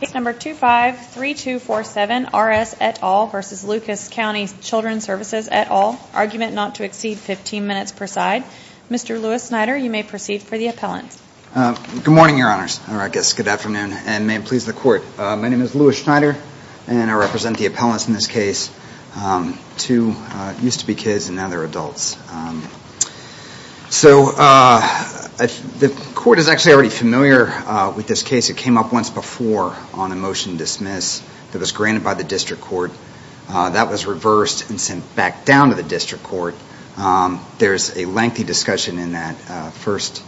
Case number 253247 R S et al. v. Lucas County Children Services et al. Argument not to exceed 15 minutes per side. Mr. Lewis Schneider, you may proceed for the appellant. Good morning, your honors, or I guess good afternoon, and may it please the court. My name is Lewis Schneider and I represent the appellants in this case. Two used to be kids and now they're adults. So the court is actually already familiar with this case. It came up once before on a motion dismiss that was granted by the district court. That was reversed and sent back down to the district court. There's a lengthy discussion in that first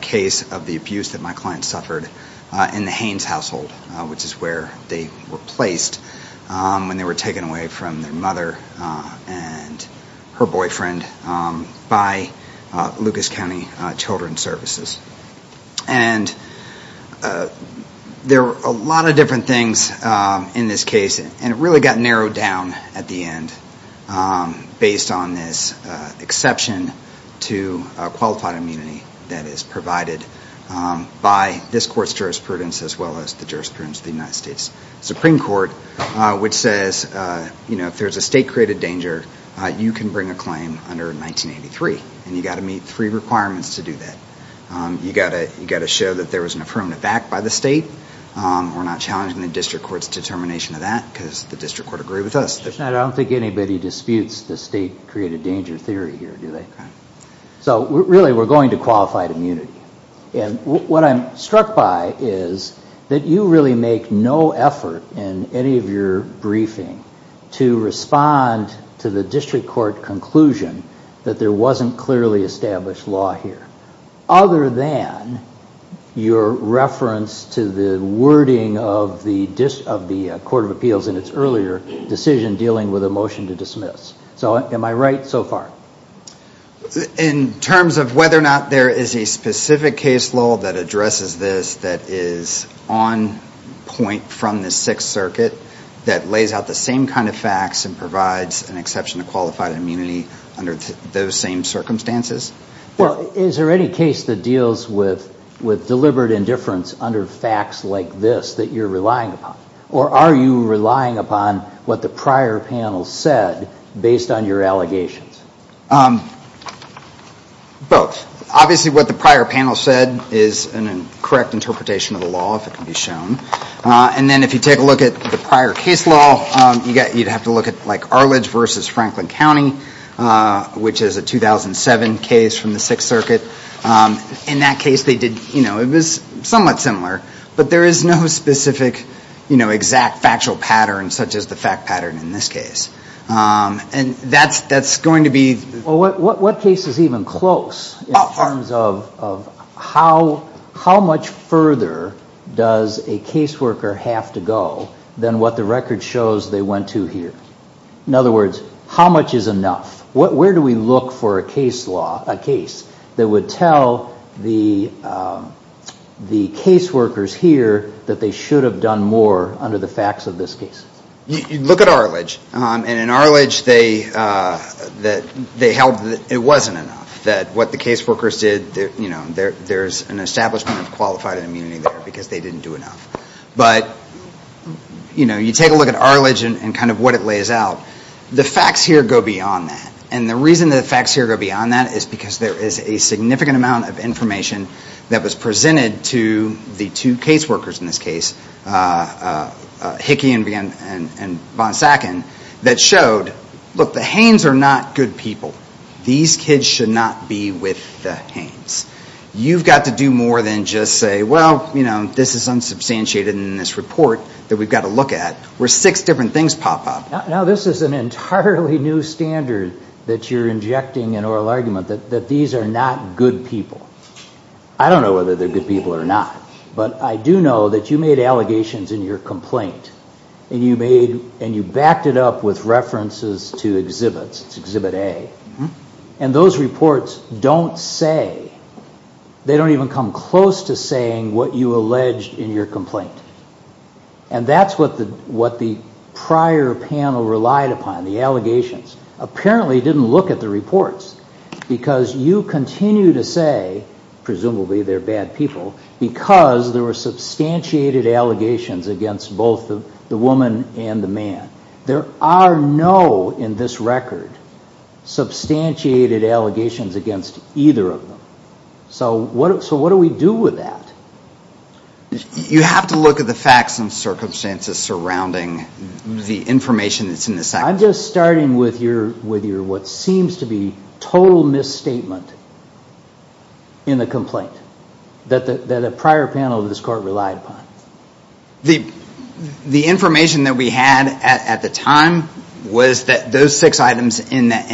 case of the abuse that my client suffered in the Haynes household, which is where they were placed when they were taken away from their mother and her boyfriend by Lucas County Children Services. And there were a lot of different things in this case and it really got narrowed down at the end based on this exception to qualified immunity that is provided by this court's jurisprudence as well as the jurisprudence of the United States Supreme Court, which says, you know, if there's a state-created danger, you can bring a claim under 1983 and you've got to meet three requirements to do that. You've got to show that there was an affirmative act by the state. We're not challenging the district court's determination of that because the district court agreed with us. I don't think anybody disputes the state-created danger theory here, do they? So really we're going to qualified immunity. And what I'm struck by is that you really make no effort in any of your briefing to respond to the district court conclusion that there wasn't clearly established law here, other than your reference to the wording of the court of appeals in its earlier decision dealing with a motion to dismiss. So am I right so far? In terms of whether or not there is a specific case law that addresses this that is on point from the Sixth Circuit that lays out the same kind of facts and provides an exception to qualified immunity under those same circumstances? Well, is there any case that deals with deliberate indifference under facts like this that you're relying upon? Or are you relying upon what the prior panel said based on your allegations? Both. Obviously what the prior panel said is a correct interpretation of the law, if it can be shown. And then if you take a look at the prior case law, you'd have to look at Arledge v. Franklin County, which is a 2007 case from the Sixth Circuit. In that case, it was somewhat similar, but there is no specific exact factual pattern such as the fact pattern in this case. And that's going to be... Well, what case is even close in terms of how much further does a caseworker have to go than what the record shows they went to here? In other words, how much is enough? Where do we look for a case that would tell the caseworkers here that they should have done more under the facts of this case? You look at Arledge. And in Arledge, they held that it wasn't enough, that what the caseworkers did, there's an establishment of qualified immunity there because they didn't do enough. But you take a look at Arledge and kind of what it lays out, the facts here go beyond that. And the reason the facts here go beyond that is because there is a significant amount of information that was presented to the two caseworkers in this case, Hickey and Von Sacken, that showed, look, the Haines are not good people. These kids should not be with the Haines. You've got to do more than just say, well, this is unsubstantiated in this report that we've got to look at, where six different things pop up. Now, this is an entirely new standard that you're injecting in oral argument, that these are not good people. I don't know whether they're good people or not, but I do know that you made allegations in your complaint, and you backed it up with references to exhibits, Exhibit A, and those reports don't say, they don't even come close to saying what you alleged in your complaint. And that's what the prior panel relied upon, the allegations. Apparently, they didn't look at the reports, because you continue to say, presumably, they're bad people, because there were substantiated allegations against both the woman and the man. There are no, in this record, substantiated allegations against either of them. So what do we do with that? You have to look at the facts and circumstances surrounding the information that's in the complaint. There seems to be total misstatement in the complaint that a prior panel of this court relied upon. The information that we had at the time was that those six items in that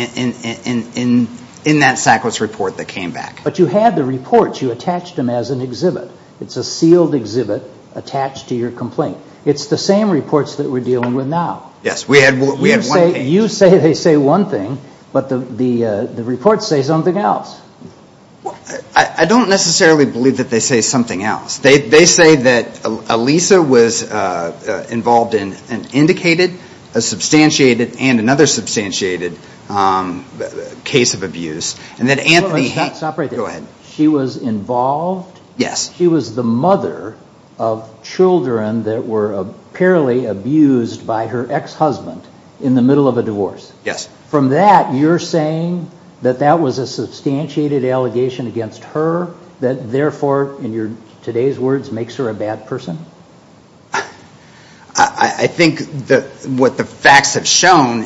Sackler's report that came back. But you had the reports, you attached them as an exhibit. It's a sealed exhibit attached to your complaint. It's the same reports that we're dealing with now. Yes, we had one page. You say they say one thing, but the reports say something else. I don't necessarily believe that they say something else. They say that Alisa was involved in an indicated, a substantiated, and another substantiated case of abuse. Stop right there. She was involved? Yes. She was the mother of children that were apparently abused by her ex-husband in the middle of a divorce. From that, you're saying that that was a substantiated allegation against her that therefore, in today's words, makes her a bad person? I think that what the facts have shown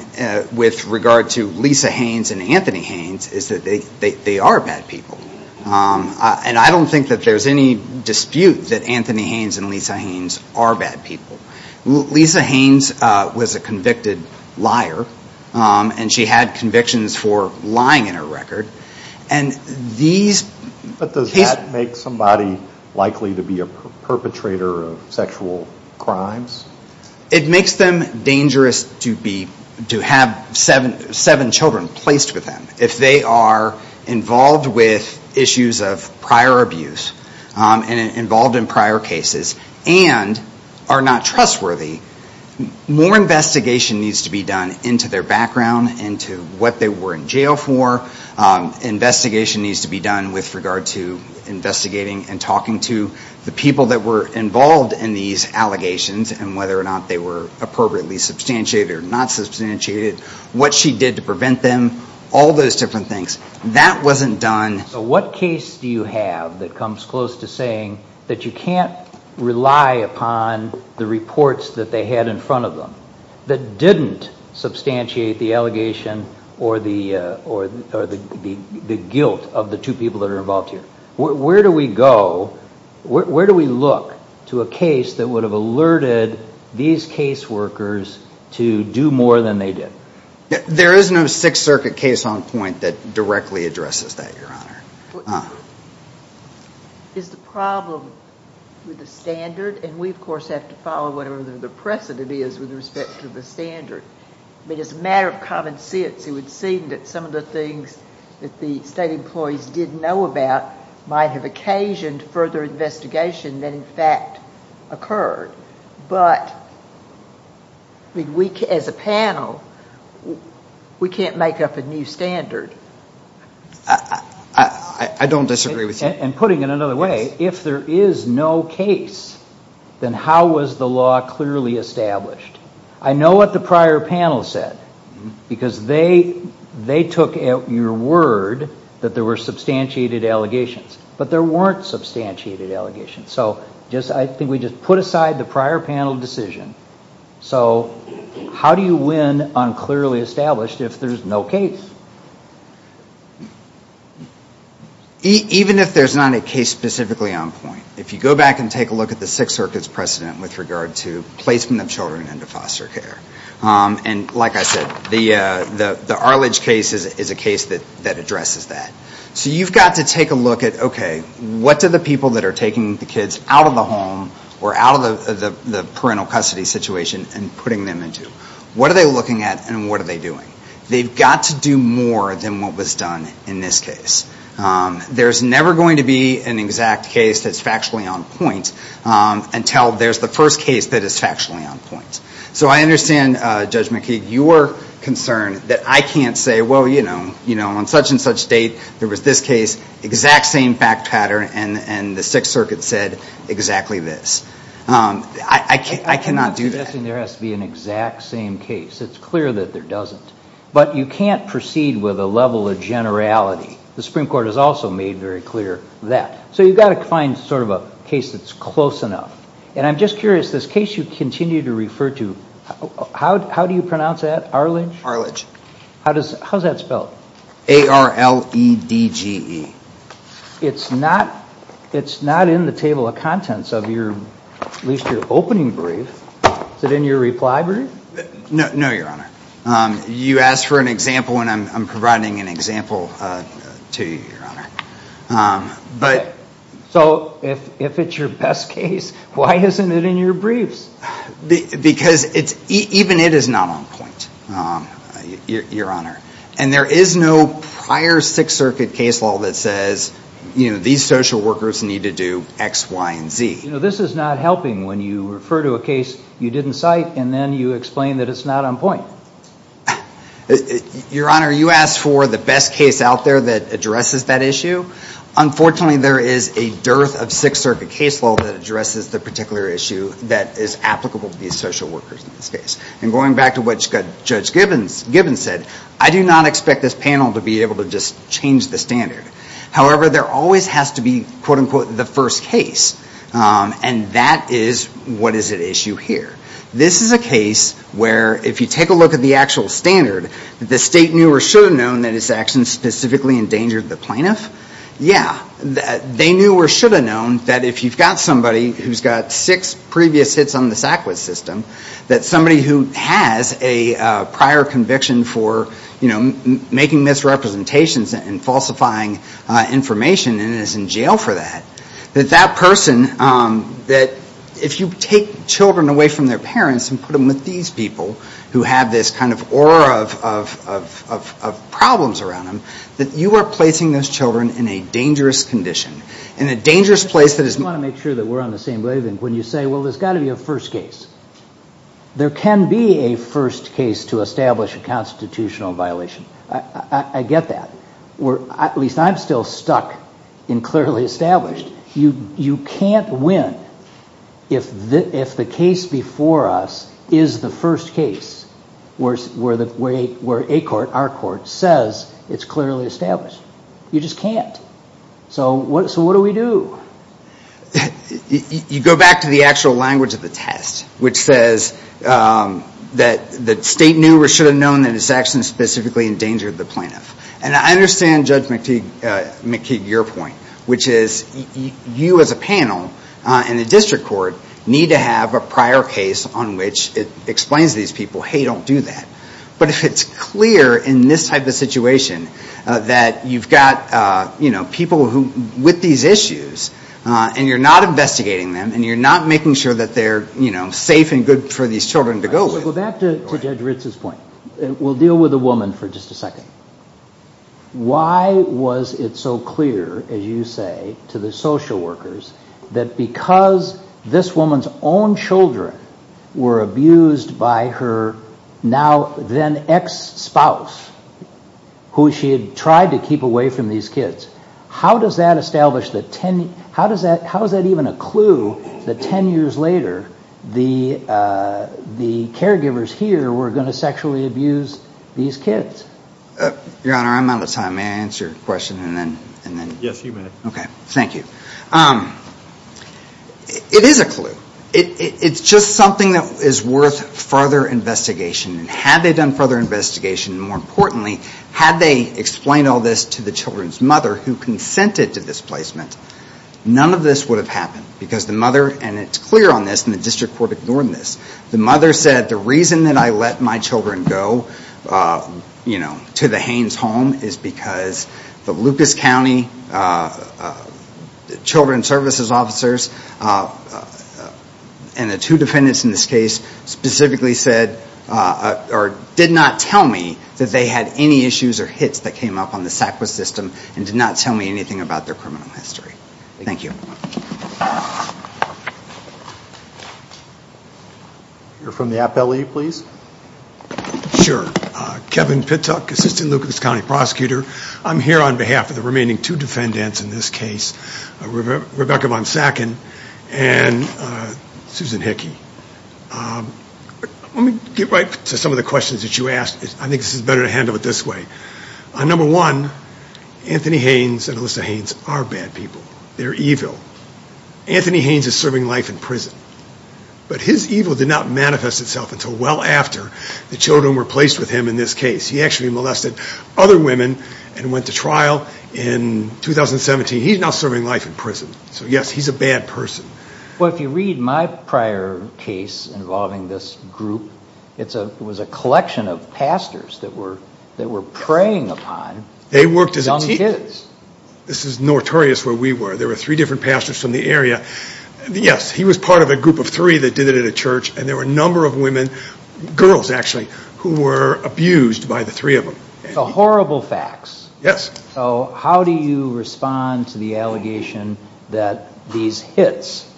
with regard to Lisa Haines and Anthony Haines is that they are bad people. And I don't think that there's any dispute that Anthony Haines and Lisa Haines are bad people. Lisa Haines was a convicted liar, and she had convictions for lying in her record. But does that make somebody likely to be a perpetrator of sexual crimes? It makes them dangerous to have seven children placed with them if they are involved with issues of prior abuse and involved in prior cases and are not trustworthy. More investigation needs to be done into their background, into what they were in jail for. Investigation needs to be done with regard to investigating and talking to the people that were involved in these allegations and whether or not they were appropriately substantiated or not substantiated, what she did to prevent them, all those different things. That wasn't done. What case do you have that comes close to saying that you can't rely upon the reports that they had in front of them that didn't substantiate the allegation or the guilt of the two people that are involved here? Where do we go? Where do we look to a case that would have alerted these caseworkers to do more than they did? There is no Sixth Circuit case on point that directly addresses that, Your Honor. Is the problem with the standard? And we, of course, have to follow whatever the precedent is with respect to the standard. I mean, it's a matter of common sense. It would seem that some of the things that the state employees did know about might have occasioned further investigation that in fact occurred. But as a panel, we can't make up a new standard. I don't disagree with you. And putting it another way, if there is no case, then how was the law clearly established? I know what the prior panel said, because they took your word that there were substantiated allegations. So I think we just put aside the prior panel decision. So how do you win on clearly established if there's no case? Even if there's not a case specifically on point, if you go back and take a look at the Sixth Circuit's precedent with regard to placement of children into foster care, and like I said, the Arledge case is a case that addresses that. So you've got to take a look at, okay, what do the people that are taking the kids out of the home or out of the parental custody situation and putting them into? What are they looking at and what are they doing? They've got to do more than what was done in this case. There's never going to be an exact case that's factually on point until there's the first case that is factually on point. So I understand, Judge McKeague, your concern that I can't say, well, you know, on such and such date, there was this case, exact same fact pattern, and the Sixth Circuit said exactly this. I cannot do that. I'm not suggesting there has to be an exact same case. It's clear that there doesn't. But you can't proceed with a level of generality. The Supreme Court has also made very clear that. So you've got to find sort of a case that's close enough. And I'm just curious, this case you continue to refer to, how do you pronounce that? Arledge? Arledge. How's that spelled? A-R-L-E-D-G-E. It's not in the table of contents of your, at least your opening brief. Is it in your reply brief? No, Your Honor. You asked for an example, and I'm providing an example to you, Your Honor. But so if it's your best case, why isn't it in your briefs? Because it's, even it is not on point, Your Honor. And there is no prior Sixth Circuit case law that says, you know, these social workers need to do X, Y, and Z. You know, this is not helping when you refer to a case you didn't cite, and then you explain that it's not on point. Your Honor, you asked for the best case out there that addresses that issue. Unfortunately, there is a dearth of Sixth Circuit case law that addresses the particular issue that is applicable to these social workers in this case. And going back to what Judge Gibbons said, I do not expect this panel to be able to just change the standard. However, there always has to be, quote unquote, the first case. And that is, what is at issue here? This is a case where, if you take a look at the actual standard, the state knew or should have known that its actions specifically endangered the plaintiff. Yeah, they knew or should have known that if you've got somebody who's got six previous hits on the SACWIS system, that somebody who has a prior conviction for, you know, making misrepresentations and falsifying information and is in jail for that, that that person, that if you take children away from their parents and put them with these people who have this kind of aura of problems around them, that you are placing those children in a dangerous condition, in a dangerous place that is... When you say, well, there's got to be a first case. There can be a first case to establish a constitutional violation. I get that. At least I'm still stuck in clearly established. You can't win if the case before us is the first case where a court, our court, says it's clearly established. You just can't. So what do we do? You go back to the actual language of the test, which says that the state knew or should have known that its actions specifically endangered the plaintiff. And I understand Judge McKeague, your point, which is you as a panel and the district court need to have a prior case on which it explains to these people, hey, don't do that. But if it's clear in this type of situation that you've got, people with these issues, and you're not investigating them, and you're not making sure that they're safe and good for these children to go with. So go back to Judge Ritz's point. We'll deal with the woman for just a second. Why was it so clear, as you say, to the social workers that because this woman's own children were abused by her now then ex-spouse, who she had tried to keep away from these kids? How does that establish the 10, how does that, how is that even a clue that 10 years later, the caregivers here were going to sexually abuse these kids? Your Honor, I'm out of time. May I answer your question and then? Yes, you may. Okay, thank you. It is a clue. It's just something that is worth further investigation. And had they done further investigation, and more importantly, had they explained all this to the children's mother who consented to this placement, none of this would have happened. Because the mother, and it's clear on this, and the district court ignored this, the mother said the reason that I let my children go to the Haines home is because the Lucas County children's services officers and the two defendants in this case specifically said, or did not tell me that they had any issues or hits that came up on the SACWIS system and did not tell me anything about their criminal history. Thank you. You're from the Appellee, please. Sure. Kevin Pittuck, Assistant Lucas County Prosecutor. I'm here on behalf of the remaining two defendants in this case, Rebecca Von Sacken and Susan Hickey. Let me get right to some of the questions that you asked. I think this is better to handle it this way. Number one, Anthony Haines and Alyssa Haines are bad people. They're evil. Anthony Haines is serving life in prison. But his evil did not manifest itself until well after the children were placed with him in this case. He actually molested other women and went to trial in 2017. He's now serving life in prison. So yes, he's a bad person. Well, if you read my prior case involving this group, it was a collection of pastors that were preying upon young kids. This is notorious where we were. There were three different pastors from the area. Yes, he was part of a group of three that did it at a church. And there were a number of women, girls actually, who were abused by the three of them. The horrible facts. Yes. So how do you respond to the allegation that these hits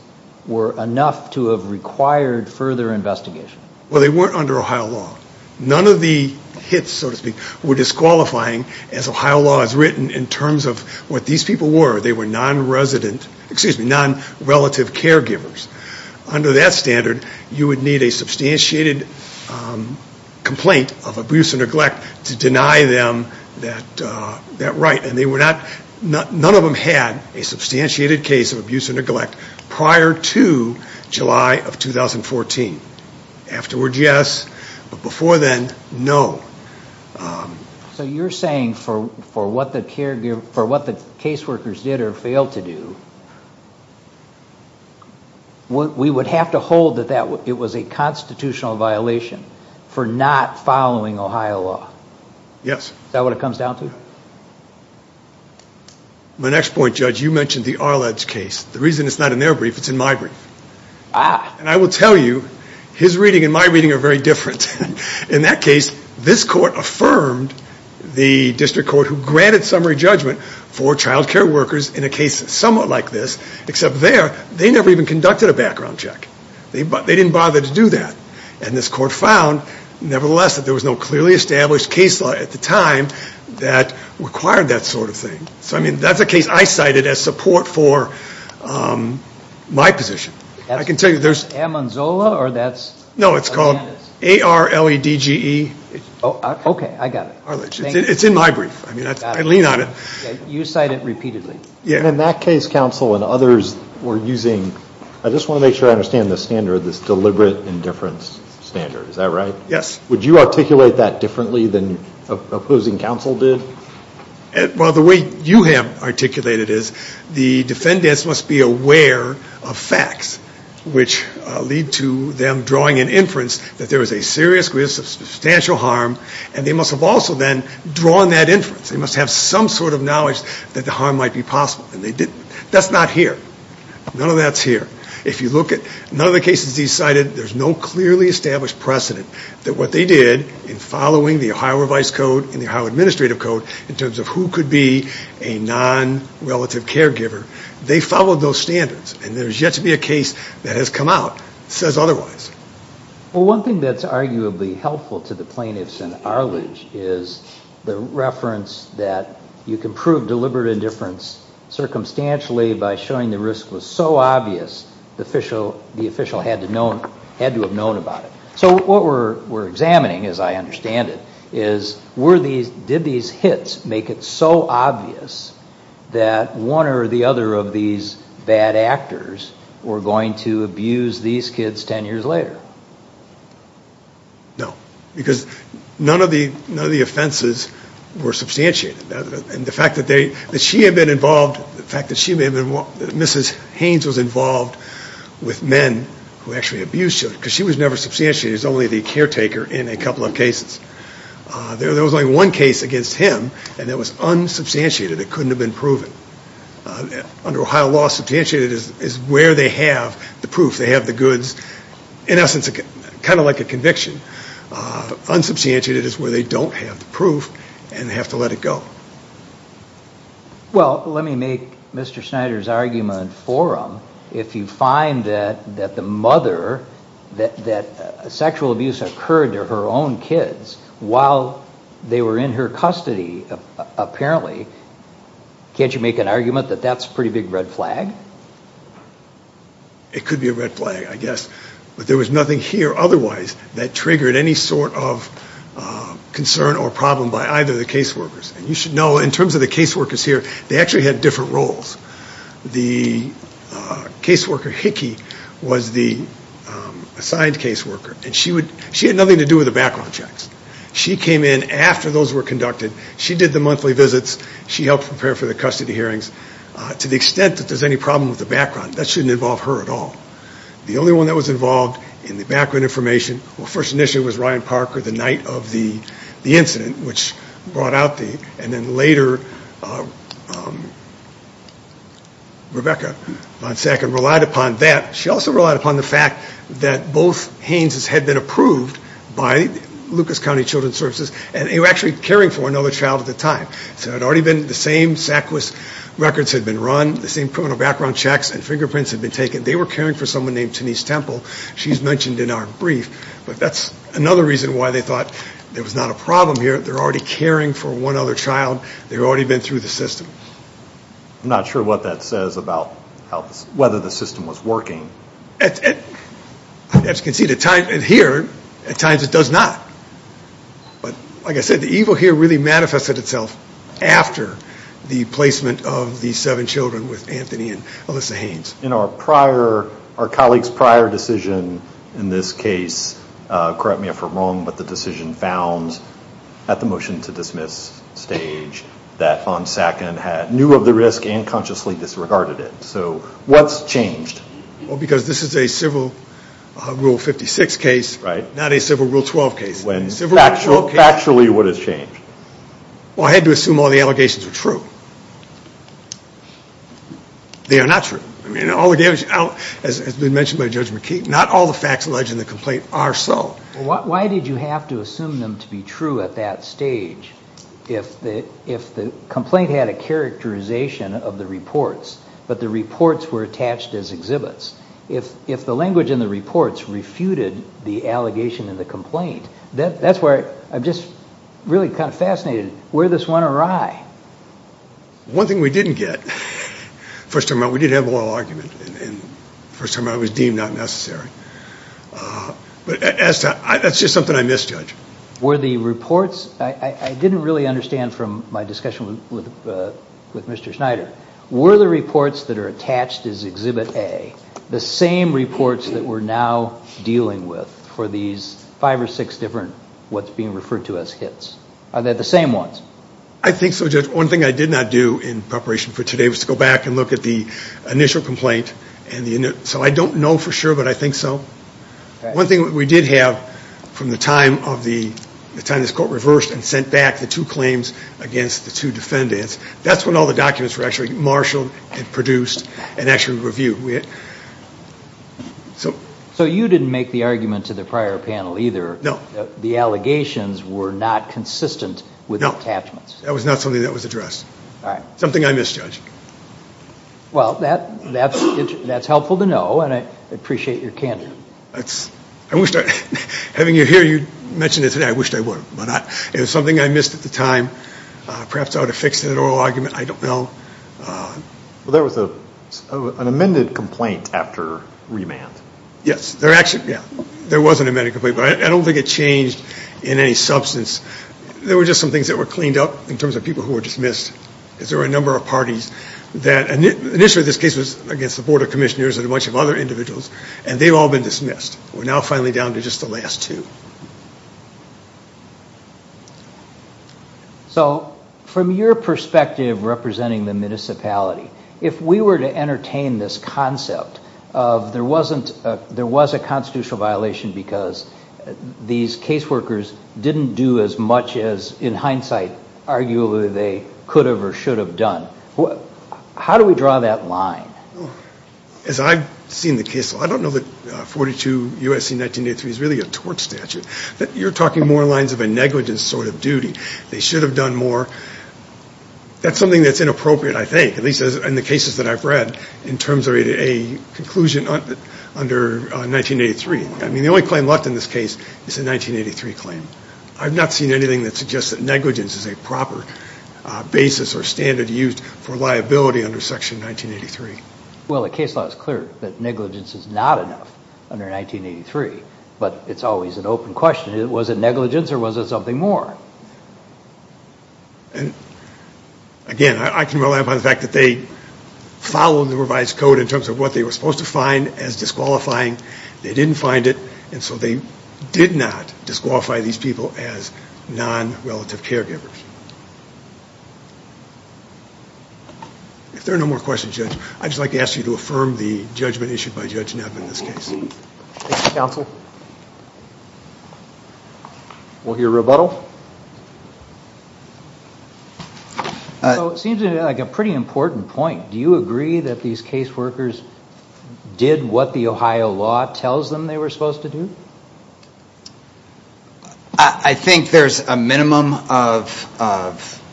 were enough to have required further investigation? Well, they weren't under Ohio law. None of the hits, so to speak, were disqualifying as Ohio law has written in terms of what these people were. They were non-resident, excuse me, non-relative caregivers. Under that standard, you would need a substantiated complaint of abuse and neglect to deny them that right. None of them had a substantiated case of abuse and neglect prior to July of 2014. Afterward, yes. But before then, no. So you're saying for what the case workers did or failed to do, we would have to hold that it was a constitutional violation for not following Ohio law? Yes. Is that what it comes down to? My next point, Judge, you mentioned the Arledge case. The reason it's not in their brief, it's in my brief. And I will tell you, his reading and my reading are very different. In that case, this court affirmed the district court who granted summary judgment for child care workers in a case somewhat like this, except there, they never even conducted a background check. They didn't bother to do that. And this court found, nevertheless, that there was no clearly established case law at the time that required that sort of thing. So I mean, that's a case I cited as support for my position. I can tell you there's- Amonzola, or that's- No, it's called A-R-L-E-D-G-E. Okay, I got it. It's in my brief. I mean, I lean on it. You cite it repeatedly. In that case, counsel and others were using, I just want to make sure I understand this standard, this deliberate indifference standard. Is that right? Yes. Would you articulate that differently than opposing counsel did? Well, the way you have articulated it is the defendants must be aware of facts which lead to them drawing an inference that there was a serious risk of substantial harm, and they must have also then drawn that inference. They must have some sort of knowledge that the harm might be possible, and they didn't. That's not here. None of that's here. If you look at- None of the cases you cited, there's no clearly established precedent that what they did in following the Ohio Revised Code and the Ohio Administrative Code in terms of who could be a non-relative caregiver, they followed those standards. There's yet to be a case that has come out that says otherwise. Well, one thing that's arguably helpful to the plaintiffs in Arledge is the reference that you can prove deliberate indifference circumstantially by showing the risk was so obvious the official had to have known about it. So what we're examining, as I understand it, is did these hits make it so obvious that one or the other of these bad actors were going to abuse these kids 10 years later? No, because none of the offenses were substantiated. And the fact that she had been involved, the fact that she may have been- Mrs. Haynes was involved with men who actually abused her, because she was never substantiated. She was only the caretaker in a couple of cases. There was only one case against him, and it was unsubstantiated. It couldn't have been proven. Under Ohio law, substantiated is where they have the proof. They have the goods, in essence, kind of like a conviction. Unsubstantiated is where they don't have the proof, and they have to let it go. Well, let me make Mr. Snyder's argument for him. If you find that the mother, that sexual abuse occurred to her own kids while they were in her custody, apparently, can't you make an argument that that's a pretty big red flag? It could be a red flag, I guess. But there was nothing here otherwise that triggered any sort of concern or problem by either of the caseworkers. And you should know, in terms of the caseworkers here, they actually had different roles. The caseworker, Hickey, was the assigned caseworker. And she had nothing to do with the background checks. She came in after those were conducted. She did the monthly visits. She helped prepare for the custody hearings. To the extent that there's any problem with the background, that shouldn't involve her at all. The only one that was involved in the background information, well, first initially was Ryan Parker, the night of the incident, which brought out the... And then later, Rebecca von Sacken relied upon that. She also relied upon the fact that both Haines's had been approved by Lucas County Children's Services. And they were actually caring for another child at the time. So it had already been the same SACWIS records had been run, the same criminal background checks and fingerprints had been taken. They were caring for someone named Denise Temple. She's mentioned in our brief. But that's another reason why they thought there was not a problem here. They're already caring for one other child. They've already been through the system. I'm not sure what that says about whether the system was working. As you can see, here, at times it does not. But like I said, the evil here really manifested itself after the placement of the seven children with Anthony and Alyssa Haines. In our prior, our colleague's prior decision in this case, correct me if I'm wrong, but the decision found at the motion to dismiss stage that von Sacken had knew of the risk and consciously disregarded it. So what's changed? Well, because this is a civil rule 56 case, not a civil rule 12 case. Factually, what has changed? Well, I had to assume all the allegations were true. They are not true. I mean, all the damage, as has been mentioned by Judge McKee, not all the facts alleged in the complaint are so. Why did you have to assume them to be true at that stage if the complaint had a characterization of the reports, but the reports were attached as exhibits? If the language in the reports refuted the allegation in the complaint, that's where I'm just really kind of fascinated, where this went awry? One thing we didn't get, first of all, we did have a little argument. And first of all, it was deemed not necessary. But that's just something I misjudged. Were the reports, I didn't really understand from my discussion with Mr. Schneider, were the reports that are attached as exhibit A, the same reports that we're now dealing with for these five or six different what's being referred to as hits? Are they the same ones? I think so, Judge. One thing I did not do in preparation for today was to go back and look at the initial complaint. So I don't know for sure, but I think so. One thing we did have from the time of the time this court reversed and sent back the two claims against the two defendants, that's when all the documents were actually marshaled and produced and actually reviewed. So. So you didn't make the argument to the prior panel either. No. The allegations were not consistent with attachments. That was not something that was addressed. All right. Something I misjudged. Well, that's helpful to know. And I appreciate your candor. I wish, having you here, you mentioned it today, I wished I would. But it was something I missed at the time. Perhaps I ought to fix that oral argument. I don't know. Well, there was an amended complaint after remand. Yes. There actually, yeah, there was an amended complaint. But I don't think it changed in any substance. There were just some things that were cleaned up in terms of people who were dismissed. Because there were a number of parties that, initially this case was against the Board of Commissioners and a bunch of other individuals. And they've all been dismissed. We're now finally down to just the last two. So from your perspective, representing the municipality, if we were to entertain this concept of there wasn't a, there was a constitutional violation because these caseworkers didn't do as much as, in hindsight, arguably they could have or should have done, how do we draw that line? As I've seen the case, I don't know that 42 U.S.C. 1983 is really a tort statute. You're talking more lines of a negligence sort of duty. They should have done more. That's something that's inappropriate, I think, at least in the cases that I've read, in terms of a conclusion under 1983. I mean, the only claim left in this case is the 1983 claim. I've not seen anything that suggests that negligence is a proper basis or standard used for liability under Section 1983. Well, the case law is clear that negligence is not enough under 1983, but it's always an open question. Was it negligence or was it something more? And again, I can rely upon the fact that they followed the revised code in terms of what they were supposed to find as disqualifying. They didn't find it, and so they did not disqualify these people as non-relative caregivers. If there are no more questions, Judge, I'd just like to ask you to affirm the judgment issued by Judge Knapp in this case. Thank you, counsel. We'll hear rebuttal. So it seems like a pretty important point. Do you agree that these caseworkers did what the Ohio law tells them they were supposed to do? I think there's a minimum of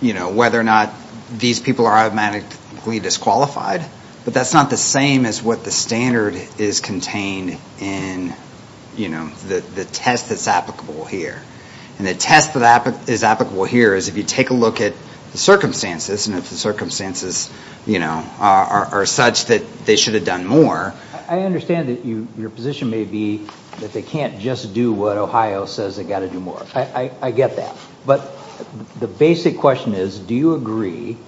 whether or not these people are automatically disqualified, but that's not the same as what the standard is contained in the test that's applicable here. And the test that is applicable here is if you take a look at the circumstances and if the circumstances are such that they should have done more. I understand that your position may be that they can't just do what Ohio says they got to do more. I get that. But the basic question is, do you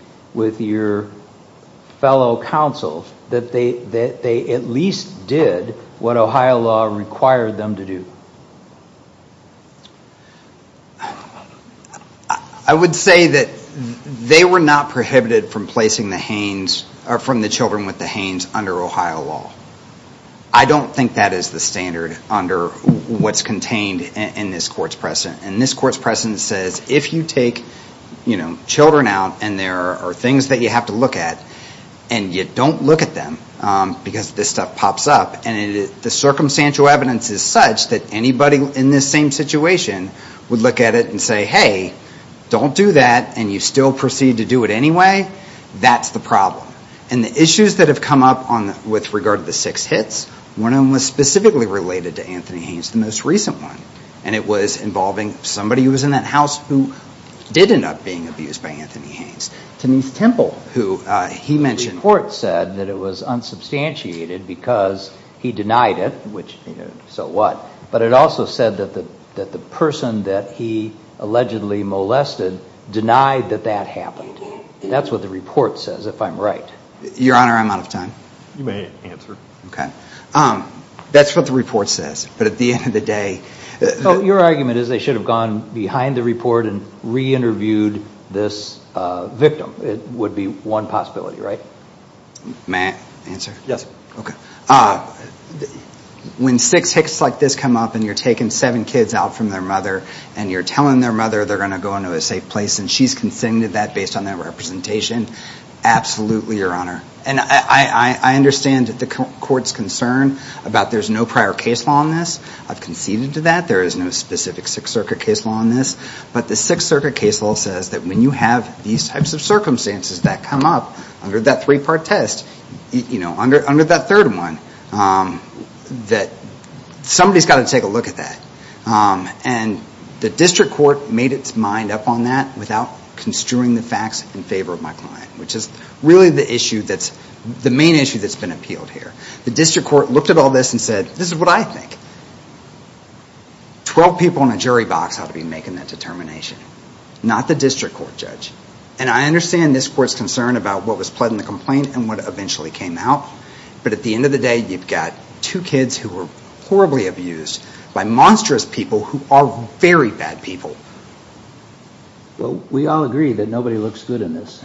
fellow counsel that they at least did what Ohio law required them to do? I would say that they were not prohibited from placing the children with the Hanes under Ohio law. I don't think that is the standard under what's contained in this court's precedent. And this court's precedent says if you take children out and there are things that you have to look at and you don't look at them because this stuff pops up and the circumstantial evidence is such that anybody in this same situation would look at it and say, hey, don't do that and you still proceed to do it anyway, that's the problem. And the issues that have come up with regard to the six hits, one of them was specifically related to Anthony Hanes, the most recent one. And it was involving somebody who who did end up being abused by Anthony Hanes, Taneeth Temple, who he mentioned. The report said that it was unsubstantiated because he denied it, which so what? But it also said that the person that he allegedly molested denied that that happened. That's what the report says, if I'm right. Your Honor, I'm out of time. You may answer. OK. That's what the report says. But at the end of the day, your argument is they should have gone behind the report and re-interviewed this victim. It would be one possibility, right? May I answer? Yes. When six hits like this come up and you're taking seven kids out from their mother and you're telling their mother they're going to go into a safe place and she's consented that based on their representation, absolutely, Your Honor. And I understand the court's concern about there's no prior case law on this. I've conceded to that. There is no specific Sixth Circuit case law on this. But the Sixth Circuit case law says that when you have these types of circumstances that come up under that three-part test, under that third one, that somebody's got to take a look at that. And the district court made its mind up on that without construing the facts in favor of my client, which is really the main issue that's been appealed here. The district court looked at all this and said, this is what I think. Twelve people in a jury box ought to be making that determination, not the district court judge. And I understand this court's concern about what was pled in the complaint and what eventually came out. But at the end of the day, you've got two kids who were horribly abused by monstrous people who are very bad people. Well, we all agree that nobody looks good in this.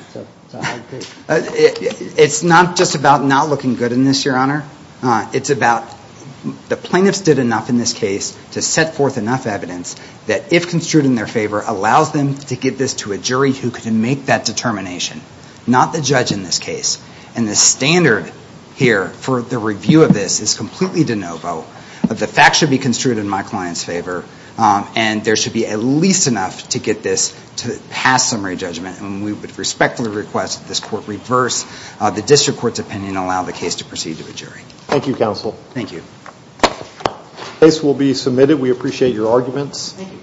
It's not just about not looking good in this, Your Honor. It's about the plaintiffs did enough in this case to set forth enough evidence that, if construed in their favor, allows them to get this to a jury who can make that determination, not the judge in this case. And the standard here for the review of this is completely de novo. The facts should be construed in my client's favor. And there should be at least enough to get this to pass summary judgment. And we would respectfully request that this court reverse the district court's opinion and allow the case to proceed to a jury. Thank you, counsel. Thank you. Case will be submitted. We appreciate your arguments.